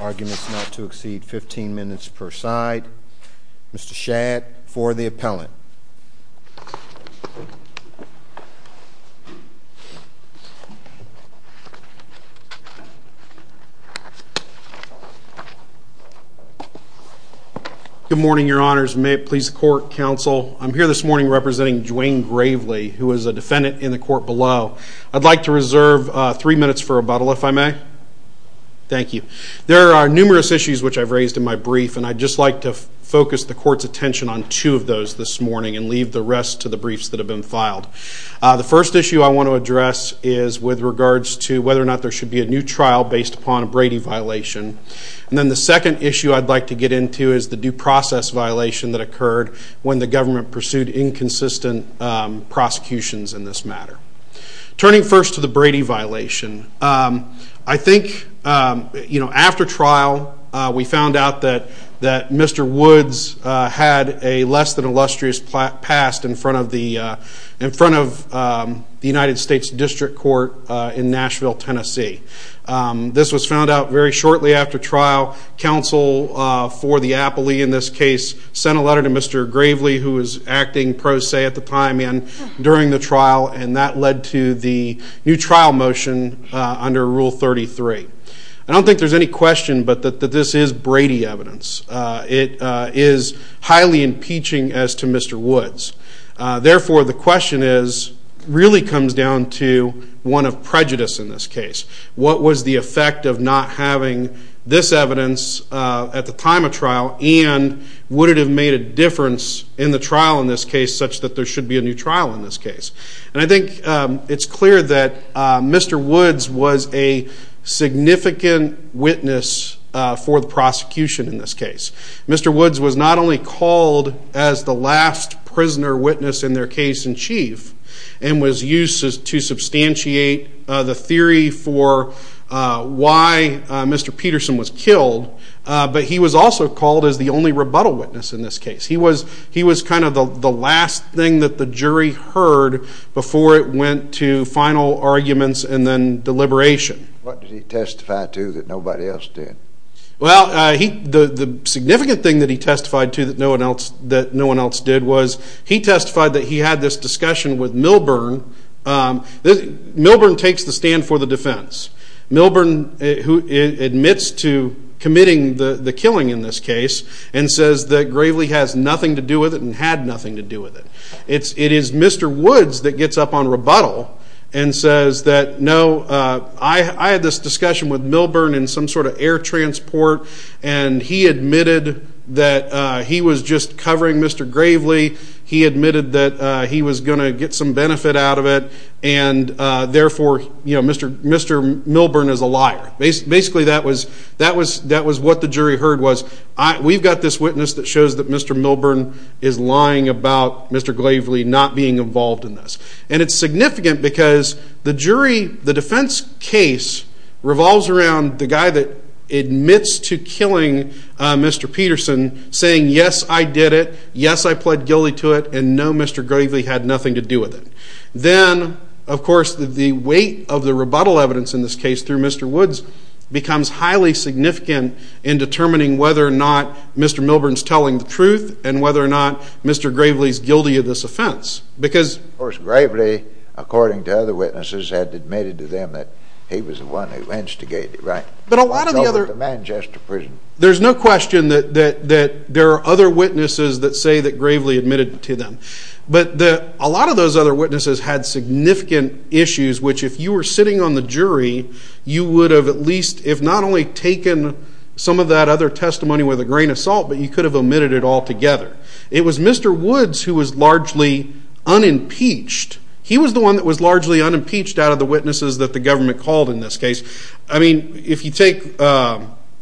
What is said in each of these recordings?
Arguments not to exceed 15 minutes per side. Mr. Shadd for the appellant. Good morning, your honors. May it please the court, counsel. I'm here this morning representing Dwayne Gravely, who is a defendant in the court below. I'd like to reserve three minutes for rebuttal if I may. Thank you. There are numerous issues which I've raised in my brief and I'd just like to focus the court's attention on two of those this morning and leave the rest to the briefs that have been filed. The first issue I want to address is with regards to whether or not there should be a new trial based upon a Brady violation. And then the second issue I'd like to get into is the due process violation that occurred when the government pursued inconsistent prosecutions in this matter. Turning first to the Brady violation, I think after trial we found out that Mr. Woods had a less than illustrious past in front of the United States District Court in Nashville, Tennessee. This was found out very shortly after trial. Counsel for the appellee in this case sent a letter to Mr. Gravely who was acting pro se at the time and during the trial and that led to the new trial motion under Rule 33. I don't think there's any question but that this is Brady evidence. It is highly impeaching as to Mr. Woods. Therefore the question really comes down to one of prejudice in this case. What was the effect of not having this evidence at the time of trial and would it have made a difference in the trial in this case such that there should be a new trial in this case? And I think it's clear that Mr. Woods was a significant witness for the prosecution in this case. Mr. Woods was not only called as the last prisoner witness in their case in chief and was used to substantiate the theory for why Mr. Peterson was killed, but he was also called as the only rebuttal witness in this case. He was kind of the last thing that the jury heard before it went to final arguments and then deliberation. What did he Well, the significant thing that he testified to that no one else did was he testified that he had this discussion with Milburn. Milburn takes the stand for the defense. Milburn admits to committing the killing in this case and says that Gravely has nothing to do with it and had nothing to do with it. It is Mr. Woods that gets up on rebuttal and says that no, I had this discussion with and he admitted that he was just covering Mr. Gravely. He admitted that he was going to get some benefit out of it and therefore Mr. Milburn is a liar. Basically, that was what the jury heard was. We've got this witness that shows that Mr. Milburn is lying about Mr. Gravely not being involved in this. And it's significant because the defense case revolves around the guy that admits to killing Mr. Peterson saying, yes, I did it. Yes, I pled guilty to it. And no, Mr. Gravely had nothing to do with it. Then, of course, the weight of the rebuttal evidence in this case through Mr. Woods becomes highly significant in determining whether or not Mr. Milburn's telling the truth and whether or not Mr. Gravely's guilty of this offense. Of course, Gravely, according to other witnesses, had admitted to them that he was the one who instigated it. Right. But a lot of the other... The Manchester prison. There's no question that there are other witnesses that say that Gravely admitted to them. But a lot of those other witnesses had significant issues, which if you were sitting on the jury, you would have at least, if not only taken some of that other testimony with a grain of salt, but you could have omitted it altogether. It was Mr. Woods who was largely unimpeached. He was the one that was largely unimpeached out of the witnesses that the government called in this case. I mean, if you take...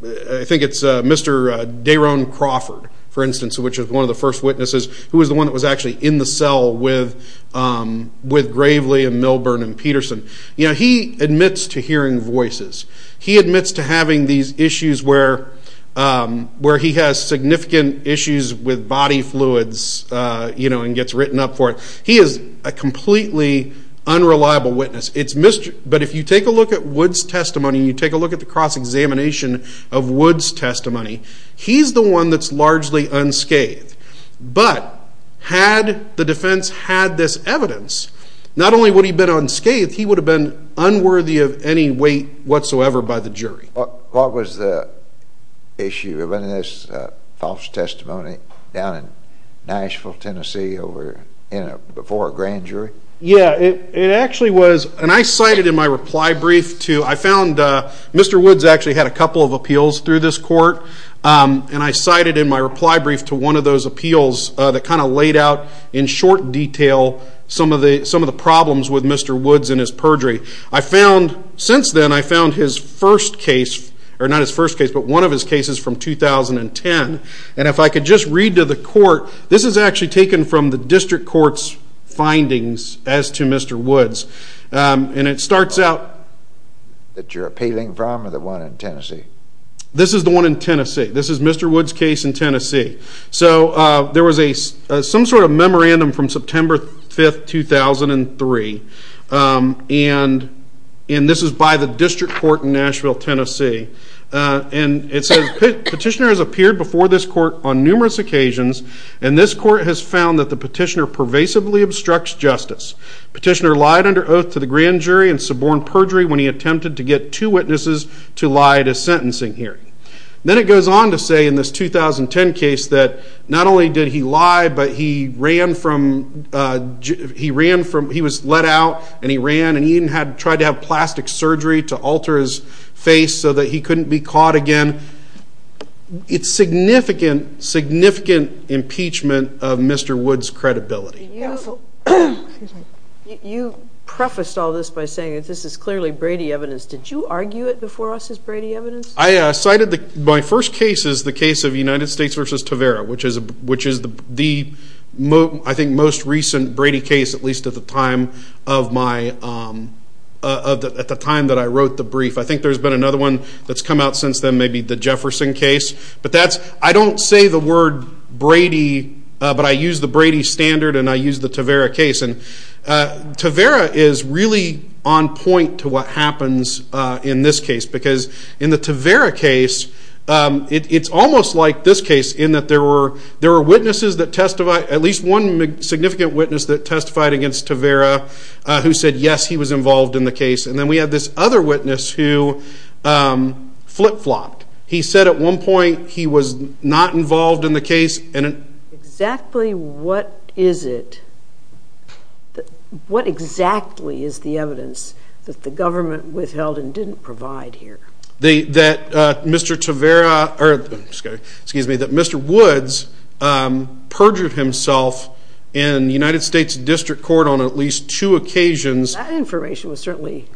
I think it's Mr. Daron Crawford, for instance, which is one of the first witnesses who was the one that was actually in the cell with Gravely and Milburn and Peterson. He admits to hearing voices. He admits to having these issues where he has significant issues with body fluids and gets written up for it. He is a completely unreliable witness. But if you take a look at Woods' testimony and you take a look at the cross-examination of Woods' testimony, he's the one that's largely unscathed. But had the defense had this evidence, not only would he have been unscathed, he would have been unworthy of any whatsoever by the jury. What was the issue? Was it false testimony down in Nashville, Tennessee before a grand jury? Yeah, it actually was. And I cited in my reply brief to... I found Mr. Woods actually had a couple of appeals through this court. And I cited in my reply brief to one of those appeals that kind of laid out in short detail some of the problems with Mr. Woods and I found his first case, or not his first case, but one of his cases from 2010. And if I could just read to the court, this is actually taken from the district court's findings as to Mr. Woods. And it starts out... That you're appealing from or the one in Tennessee? This is the one in Tennessee. This is Mr. Woods' case in Tennessee. So there was some sort of court in Nashville, Tennessee. And it says petitioner has appeared before this court on numerous occasions. And this court has found that the petitioner pervasively obstructs justice. Petitioner lied under oath to the grand jury and suborned perjury when he attempted to get two witnesses to lie at a sentencing hearing. Then it goes on to say in this 2010 case that not only did alter his face so that he couldn't be caught again, it's significant, significant impeachment of Mr. Woods' credibility. You prefaced all this by saying that this is clearly Brady evidence. Did you argue it before us as Brady evidence? I cited my first case as the case of United States versus Tavera, which is the I think most recent Brady case, at least at the time that I wrote the brief. I think there's been another one that's come out since then, maybe the Jefferson case. But that's... I don't say the word Brady, but I use the Brady standard and I use the Tavera case. And Tavera is really on point to what happens in this case. Because in the Tavera case, it's almost like this case in that there were witnesses that testified, at least one significant witness that testified against Tavera who said, yes, he was involved in the case. And then we have this other witness who flip-flopped. He said at one point he was not involved in the case. And exactly what is it, what exactly is the evidence that the government withheld and didn't provide here? That Mr. Woods perjured himself in United States District Court on at least two occasions. That information was certainly...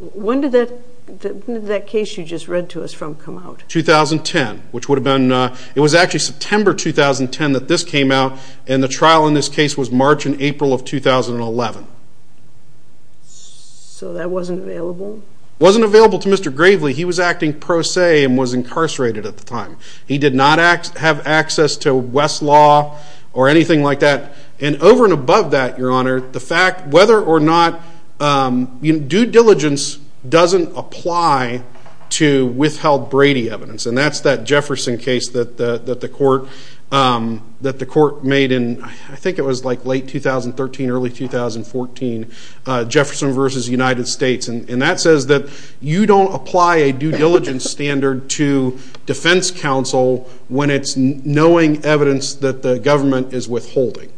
When did that case you just read to us from come out? 2010, which would have been... It was actually September 2010 that this came out and the trial in this case was March and April of 2011. So that wasn't available? Wasn't available to Mr. Gravely. He was acting pro se and was incarcerated at the time. He did not have access to West or anything like that. And over and above that, Your Honor, the fact whether or not... Due diligence doesn't apply to withheld Brady evidence. And that's that Jefferson case that the court made in, I think it was like late 2013, early 2014, Jefferson versus United States. And that says that you don't apply a due diligence standard to defense counsel when it's knowing evidence that the government is withholding.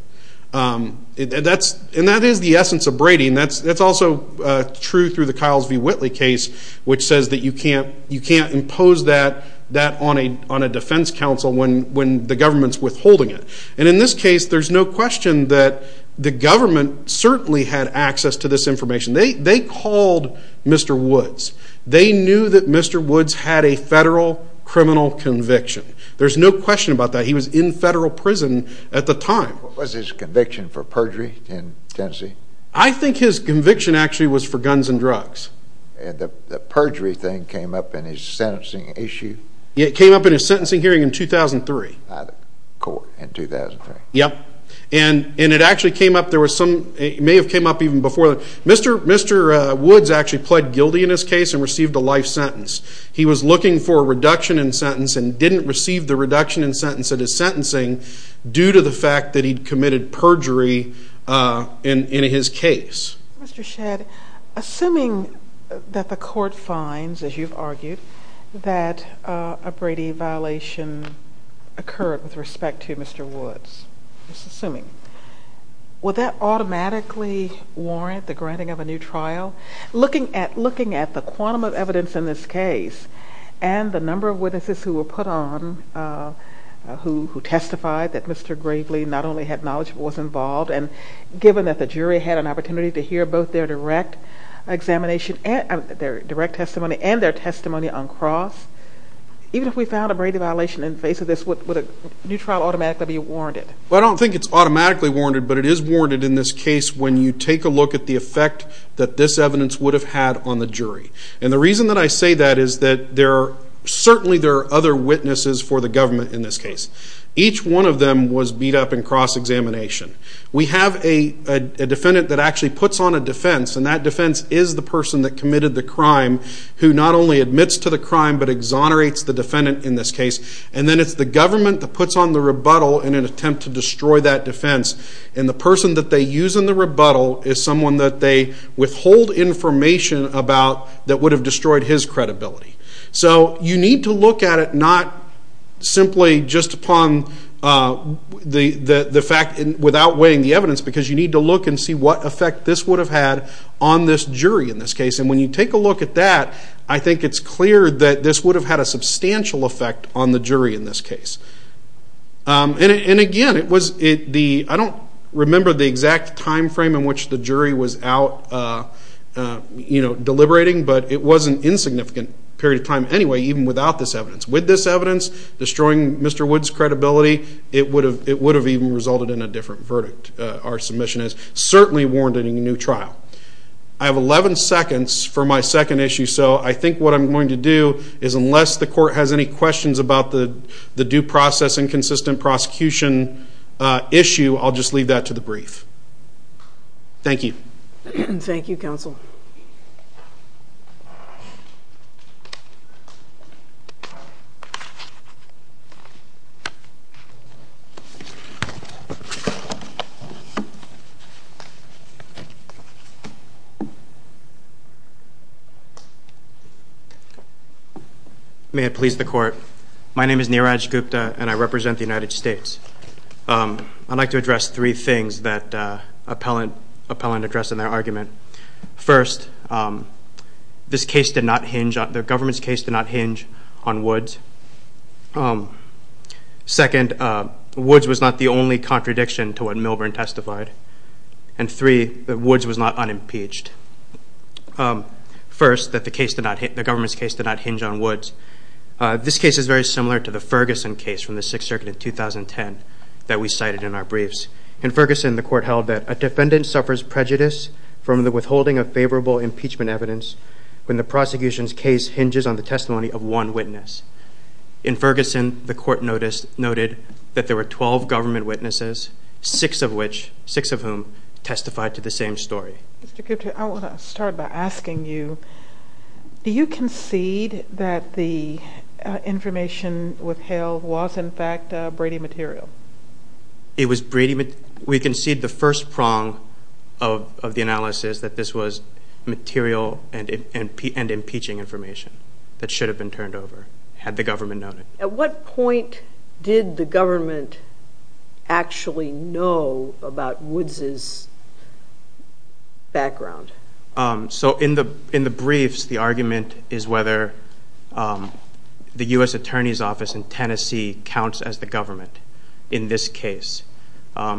And that is the essence of Brady. And that's also true through the Kyles v. Whitley case, which says that you can't impose that on a defense counsel when the government's withholding it. And in this case, there's no question that the government certainly had access to this information. They called Mr. Woods. They knew that Mr. Woods had a federal criminal conviction. There's no question about that. He was in federal prison at the time. What was his conviction for perjury in Tennessee? I think his conviction actually was for guns and drugs. And the perjury thing came up in his sentencing issue? Yeah, it came up in his sentencing hearing in 2003. At a court in 2003. Yep. And it actually came up, there was some, it may have came up even before that. Mr. Woods actually pled guilty in his case and received a life sentence. He was looking for a reduction in sentence and didn't receive the reduction in sentence at his sentencing due to the fact that he'd committed perjury in his case. Mr. Shedd, assuming that the court finds, as you've argued, that a Brady violation occurred with respect to Mr. Woods, just assuming, would that automatically warrant the granting of a new evidence in this case? And the number of witnesses who were put on, who testified that Mr. Gravely not only had knowledge but was involved, and given that the jury had an opportunity to hear both their direct examination, their direct testimony and their testimony on cross, even if we found a Brady violation in the face of this, would a new trial automatically be warranted? Well, I don't think it's automatically warranted, but it is warranted in this case when you take a look at the effect that this evidence would have had on the jury. And the reason that I say that is that there are, certainly there are other witnesses for the government in this case. Each one of them was beat up in cross-examination. We have a defendant that actually puts on a defense, and that defense is the person that committed the crime, who not only admits to the crime but exonerates the defendant in this case. And then it's the government that puts on the rebuttal in an attempt to destroy that defense, and the person that they use in the rebuttal is someone that they withhold information about that would have destroyed his credibility. So you need to look at it not simply just upon the fact, without weighing the evidence, because you need to look and see what effect this would have had on this jury in this case. And when you take a look at that, I think it's clear that this would have had a substantial effect on the jury in this case. And again, I don't remember the exact time frame in which the jury was out deliberating, but it was an insignificant period of time anyway, even without this evidence. With this evidence destroying Mr. Wood's credibility, it would have even resulted in a different verdict. Our submission has certainly warranted a new trial. I have 11 seconds for my second issue, so I think what I'm going to do is, unless the court has any questions about the due process and consistent prosecution issue, I'll just leave that to the brief. Thank you. Thank you, counsel. May it please the court. My name is Neeraj Gupta, and I represent the United States. I'd like to address three things that appellant addressed in their argument. First, this case did not hinge on, the government's case did not hinge on Woods. Second, Woods was not the only contradiction to what Milburn testified. And three, Woods was not unimpeached. First, the government's case did not hinge on Woods. This case is very similar to the Ferguson case from the Sixth Circuit in 2010 that we cited in our briefs. In Ferguson, the court held that, a defendant suffers prejudice from the withholding of favorable impeachment evidence when the prosecution's case hinges on the testimony of one witness. In Ferguson, the court noted that there were 12 government witnesses, six of whom testified to the same story. Mr. Gupta, I want to start by asking you, do you concede that the information withheld was, in fact, Brady material? It was Brady material. We concede the first prong of the analysis that this was material and impeaching information that should have been turned over, had the background. So in the briefs, the argument is whether the U.S. Attorney's Office in Tennessee counts as the government in this case,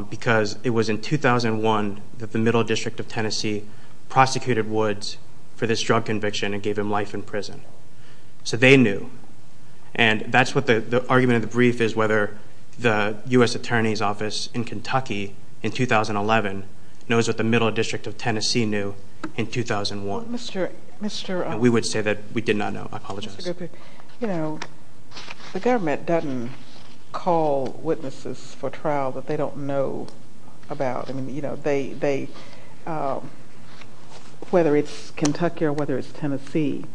because it was in 2001 that the Middle District of Tennessee prosecuted Woods for this drug conviction and gave him life in prison. So they knew. And that's what the argument of the brief is, whether the U.S. Attorney's Office in Kentucky in 2011 knows what the Middle District of Tennessee knew in 2001. We would say that we did not know. I apologize. You know, the government doesn't call witnesses for trial that they don't know about. I mean, you know, they, whether it's Kentucky or whether it's Tennessee,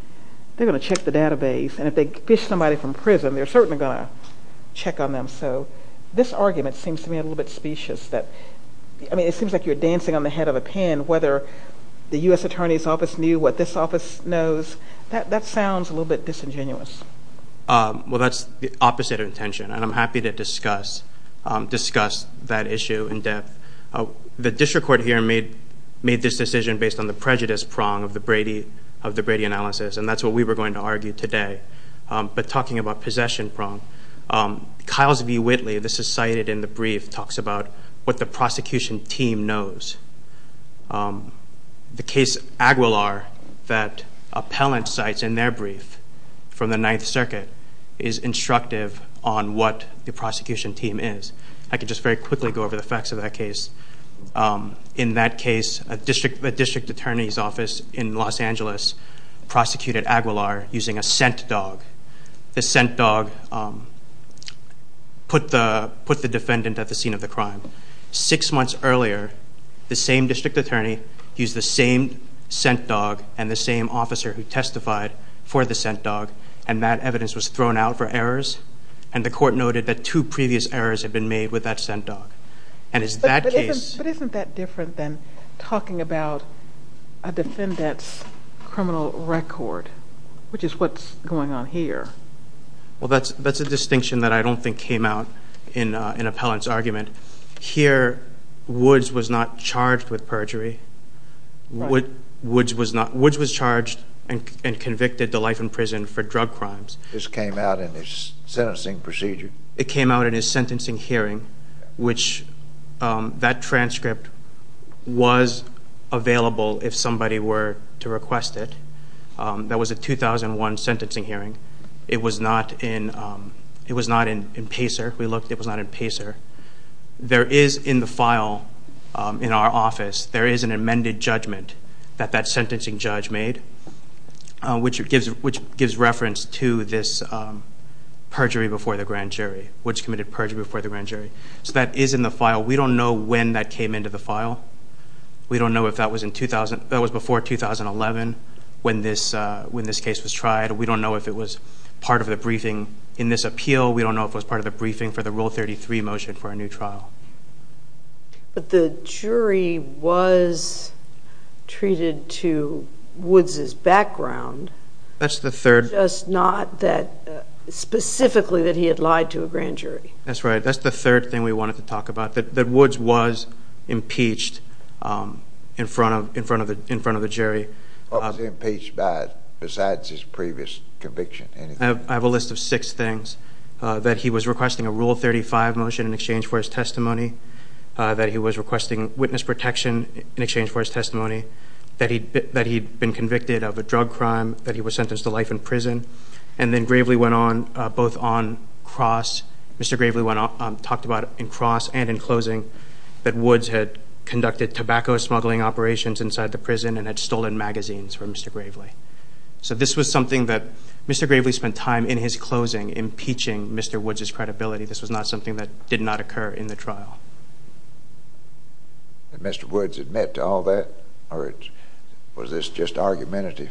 they're going to check the database and if they fish somebody from prison, they're certainly going to check on them. So this argument seems to me a little bit specious that, I mean, it seems like you're dancing on the head of a pin. Whether the U.S. Attorney's Office knew what this office knows, that sounds a little bit disingenuous. Well, that's the opposite of intention, and I'm happy to discuss that issue in depth. The district court here made this decision based on the prejudice prong of the Brady analysis, and that's what we were going to argue today. But talking about possession prong, Kyles v. Whitley, this is cited in the brief, talks about what the prosecution team knows. The case Aguilar that appellant cites in their brief from the Ninth Circuit is instructive on what the prosecution team is. I could just very quickly go over the facts of that case. In that case, a district attorney's office in Los Angeles prosecuted Aguilar using a scent dog. The scent dog put the defendant at the scene of the crime. Six months earlier, the same district attorney used the same scent dog and the same officer who testified for the scent dog, and that evidence was thrown out for errors, and the court noted that two previous errors had been made with that scent dog. But isn't that different than talking about a defendant's Well, that's a distinction that I don't think came out in an appellant's argument. Here, Woods was not charged with perjury. Woods was charged and convicted to life in prison for drug crimes. This came out in his sentencing procedure. It came out in his sentencing hearing, which that transcript was available if somebody were to request it. That was a 2001 sentencing hearing. It was not in PACER. We looked. It was not in PACER. There is in the file in our office, there is an amended judgment that that sentencing judge made, which gives reference to this perjury before the grand jury, Woods committed perjury before the grand jury. So that is in the file. We don't know when that came into the file. We don't know if that was before 2011 when this case was tried. We don't know if it was part of the briefing in this appeal. We don't know if it was part of the briefing for the Rule 33 motion for a new trial. But the jury was treated to Woods' background. That's the third. Just not that specifically that he had lied to a grand jury. That's right. That's the third thing we wanted to talk about, that Woods was impeached in front of the jury. What was he impeached by besides his previous conviction? I have a list of six things. That he was requesting a Rule 35 motion in exchange for his testimony. That he was requesting witness protection in exchange for his testimony. That he'd been convicted of a drug crime. That he was sentenced to life in prison. And then gravely went on, on cross, Mr. Gravely talked about in cross and in closing, that Woods had conducted tobacco smuggling operations inside the prison and had stolen magazines from Mr. Gravely. So this was something that Mr. Gravely spent time in his closing impeaching Mr. Woods' credibility. This was not something that did not occur in the trial. Did Mr. Woods admit to all that or was this just argumentative?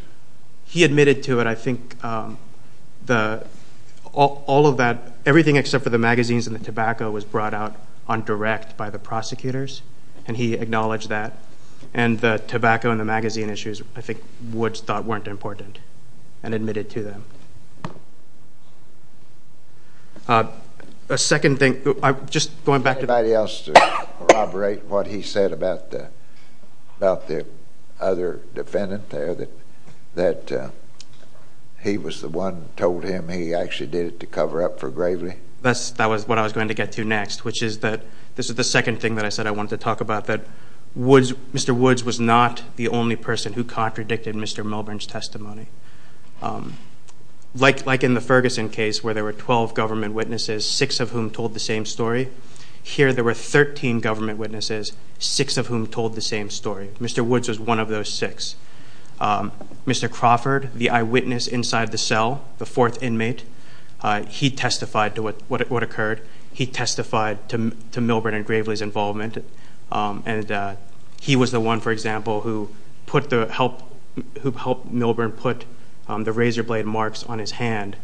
He admitted to it. I think all of that, everything except for the magazines and the tobacco, was brought out on direct by the prosecutors and he acknowledged that. And the tobacco and the magazine issues, I think Woods thought weren't important and admitted to them. A second thing, just going back to... Anybody else corroborate what he said about the other defendant there? That he was the one who told him he actually did it to cover up for Gravely? That was what I was going to get to next, which is that this is the second thing that I said I wanted to talk about. That Mr. Woods was not the only person who contradicted Mr. Melbourne's testimony. Like in the Ferguson case where there were 12 government witnesses, six of whom told the same story. Here there were 13 government witnesses, six of whom told the same story. Mr. Woods was one of those six. Mr. Crawford, the eyewitness inside the cell, the fourth inmate, he testified to what occurred. He testified to Melbourne and Gravely's involvement. And he was the one, for example, who helped Melbourne put the razor blade marks on his hand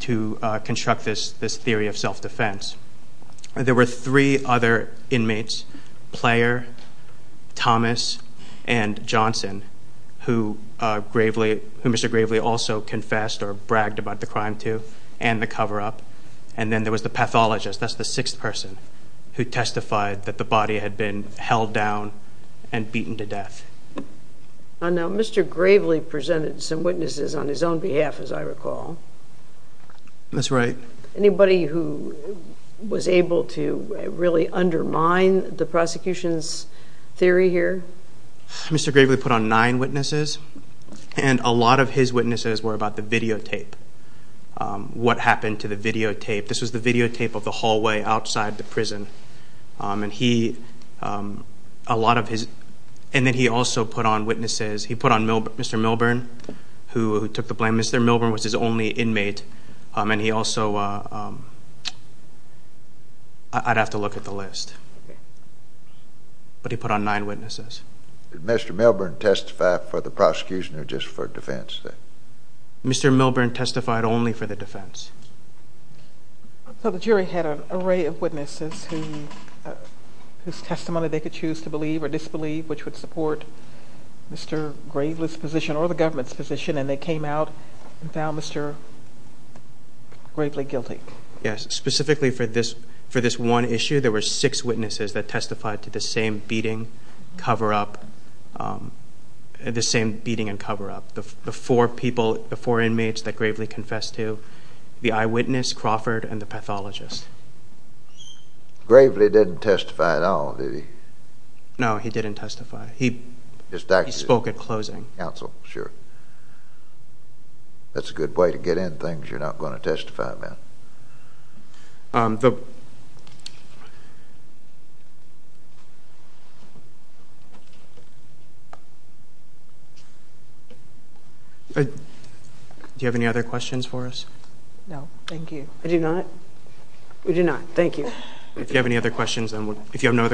to construct this theory of self-defense. There were three other inmates, Player, Thomas, and Johnson, who Mr. Gravely also confessed or bragged about the crime to, and the cover-up. And then there was the pathologist, that's the sixth person, who testified that the body had been held down and beaten to death. Now, Mr. Gravely presented some witnesses on his own behalf, as I recall. That's right. Anybody who was able to really undermine the prosecution's theory here? Mr. Gravely put on nine witnesses, and a lot of his witnesses were about the videotape. What happened to the videotape? This was the videotape of the hallway outside the prison. And he, a lot of his, and then he also put on witnesses, he put on Mr. Melbourne, who took the blame. Mr. Melbourne was his only inmate, and he also, I'd have to look at the list. But he put on nine witnesses. Did Mr. Melbourne testify for the prosecution or just for defense? Mr. Melbourne testified only for the defense. So the jury had an array of witnesses whose testimony they could choose to believe or disbelieve, which would support Mr. Gravely's position or the government's position, and they came out and found Mr. Gravely guilty. Yes. Specifically for this one issue, there were six witnesses that testified to the same beating cover-up, the same beating and cover-up. The four people, the four inmates that Gravely confessed to, the eyewitness, Crawford, and the pathologist. Gravely didn't testify at all, did he? No, he didn't testify. He spoke at closing. Counsel, sure. That's a good way to get in things you're not going to testify about. Do you have any other questions for us? No, thank you. I do not. We do not. Thank you. If you have no other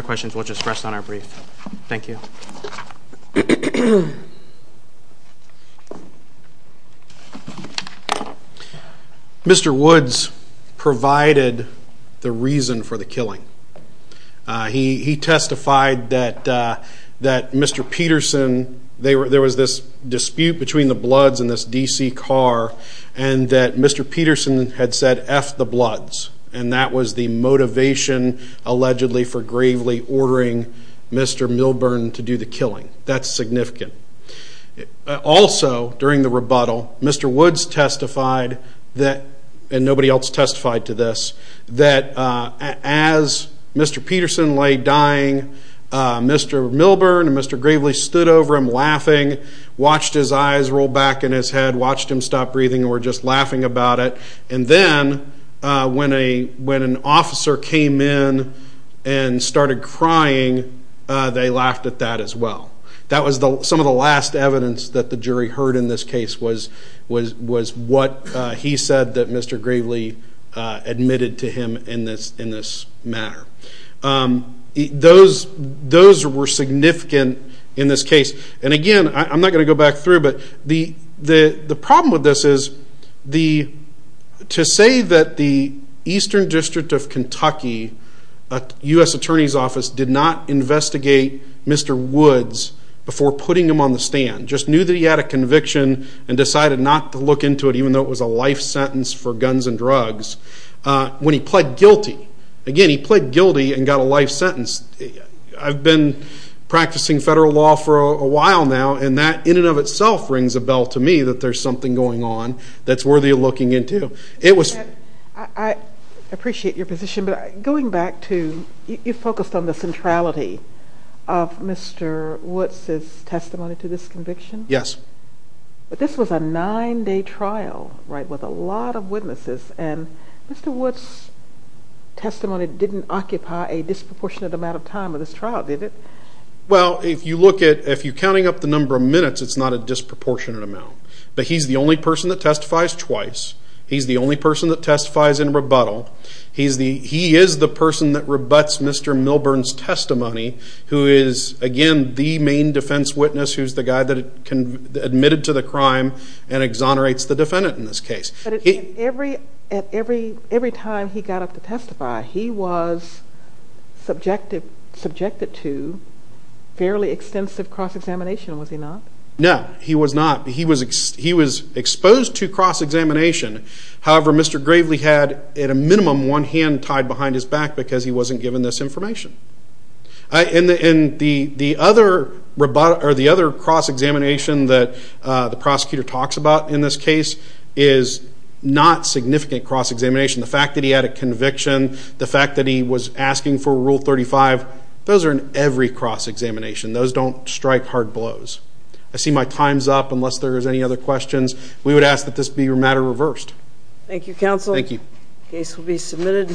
questions, we'll just rest on our brief. Thank you. Mr. Woods provided the reason for the killing. He testified that Mr. Peterson, there was this dispute between the Bloods and this DC car, and that Mr. Peterson had said, F the Bloods. That was the motivation, allegedly, for Gravely ordering Mr. Milburn to do the killing. That's significant. Also, during the rebuttal, Mr. Woods testified, and nobody else testified to this, that as Mr. Peterson lay dying, Mr. Milburn and Mr. Gravely stood over him laughing, watched his eyes roll back in his head, watched him stop breathing, and were just laughing about it. Then, when an officer came in and started crying, they laughed at that as well. That was some of the last evidence that the jury heard in this case, was what he said that Mr. Gravely admitted to him in this matter. Those were significant in this case. Again, I'm not going to say that the Eastern District of Kentucky U.S. Attorney's Office did not investigate Mr. Woods before putting him on the stand. They just knew that he had a conviction and decided not to look into it, even though it was a life sentence for guns and drugs, when he pled guilty. Again, he pled guilty and got a life sentence. I've been practicing federal law for a while now, and that rings a bell to me that there's something going on that's worthy of looking into. I appreciate your position, but going back to, you focused on the centrality of Mr. Woods' testimony to this conviction? Yes. This was a nine-day trial with a lot of witnesses, and Mr. Woods' testimony didn't occupy a disproportionate amount of time with this trial, did it? Well, if you're counting up the number of minutes, it's not a disproportionate amount. But he's the only person that testifies twice. He's the only person that testifies in rebuttal. He is the person that rebuts Mr. Milburn's testimony, who is, again, the main defense witness, who's the guy that admitted to the crime and exonerates the defendant in this case. But every time he got up to testify, he was subjected to fairly extensive cross-examination, was he not? No, he was not. He was exposed to cross-examination. However, Mr. Gravely had, at a minimum, one hand tied behind his back because he wasn't given this information. And the other cross-examination that the prosecutor talks about in this case is not significant cross-examination. The fact that he had a conviction, the fact that he was asking for Rule 35, those are in every cross-examination. Those don't strike hard blows. I see my time's up. Unless there's any other questions, we would ask that this be matter reversed. Thank you, counsel. Thank you. Case will be submitted.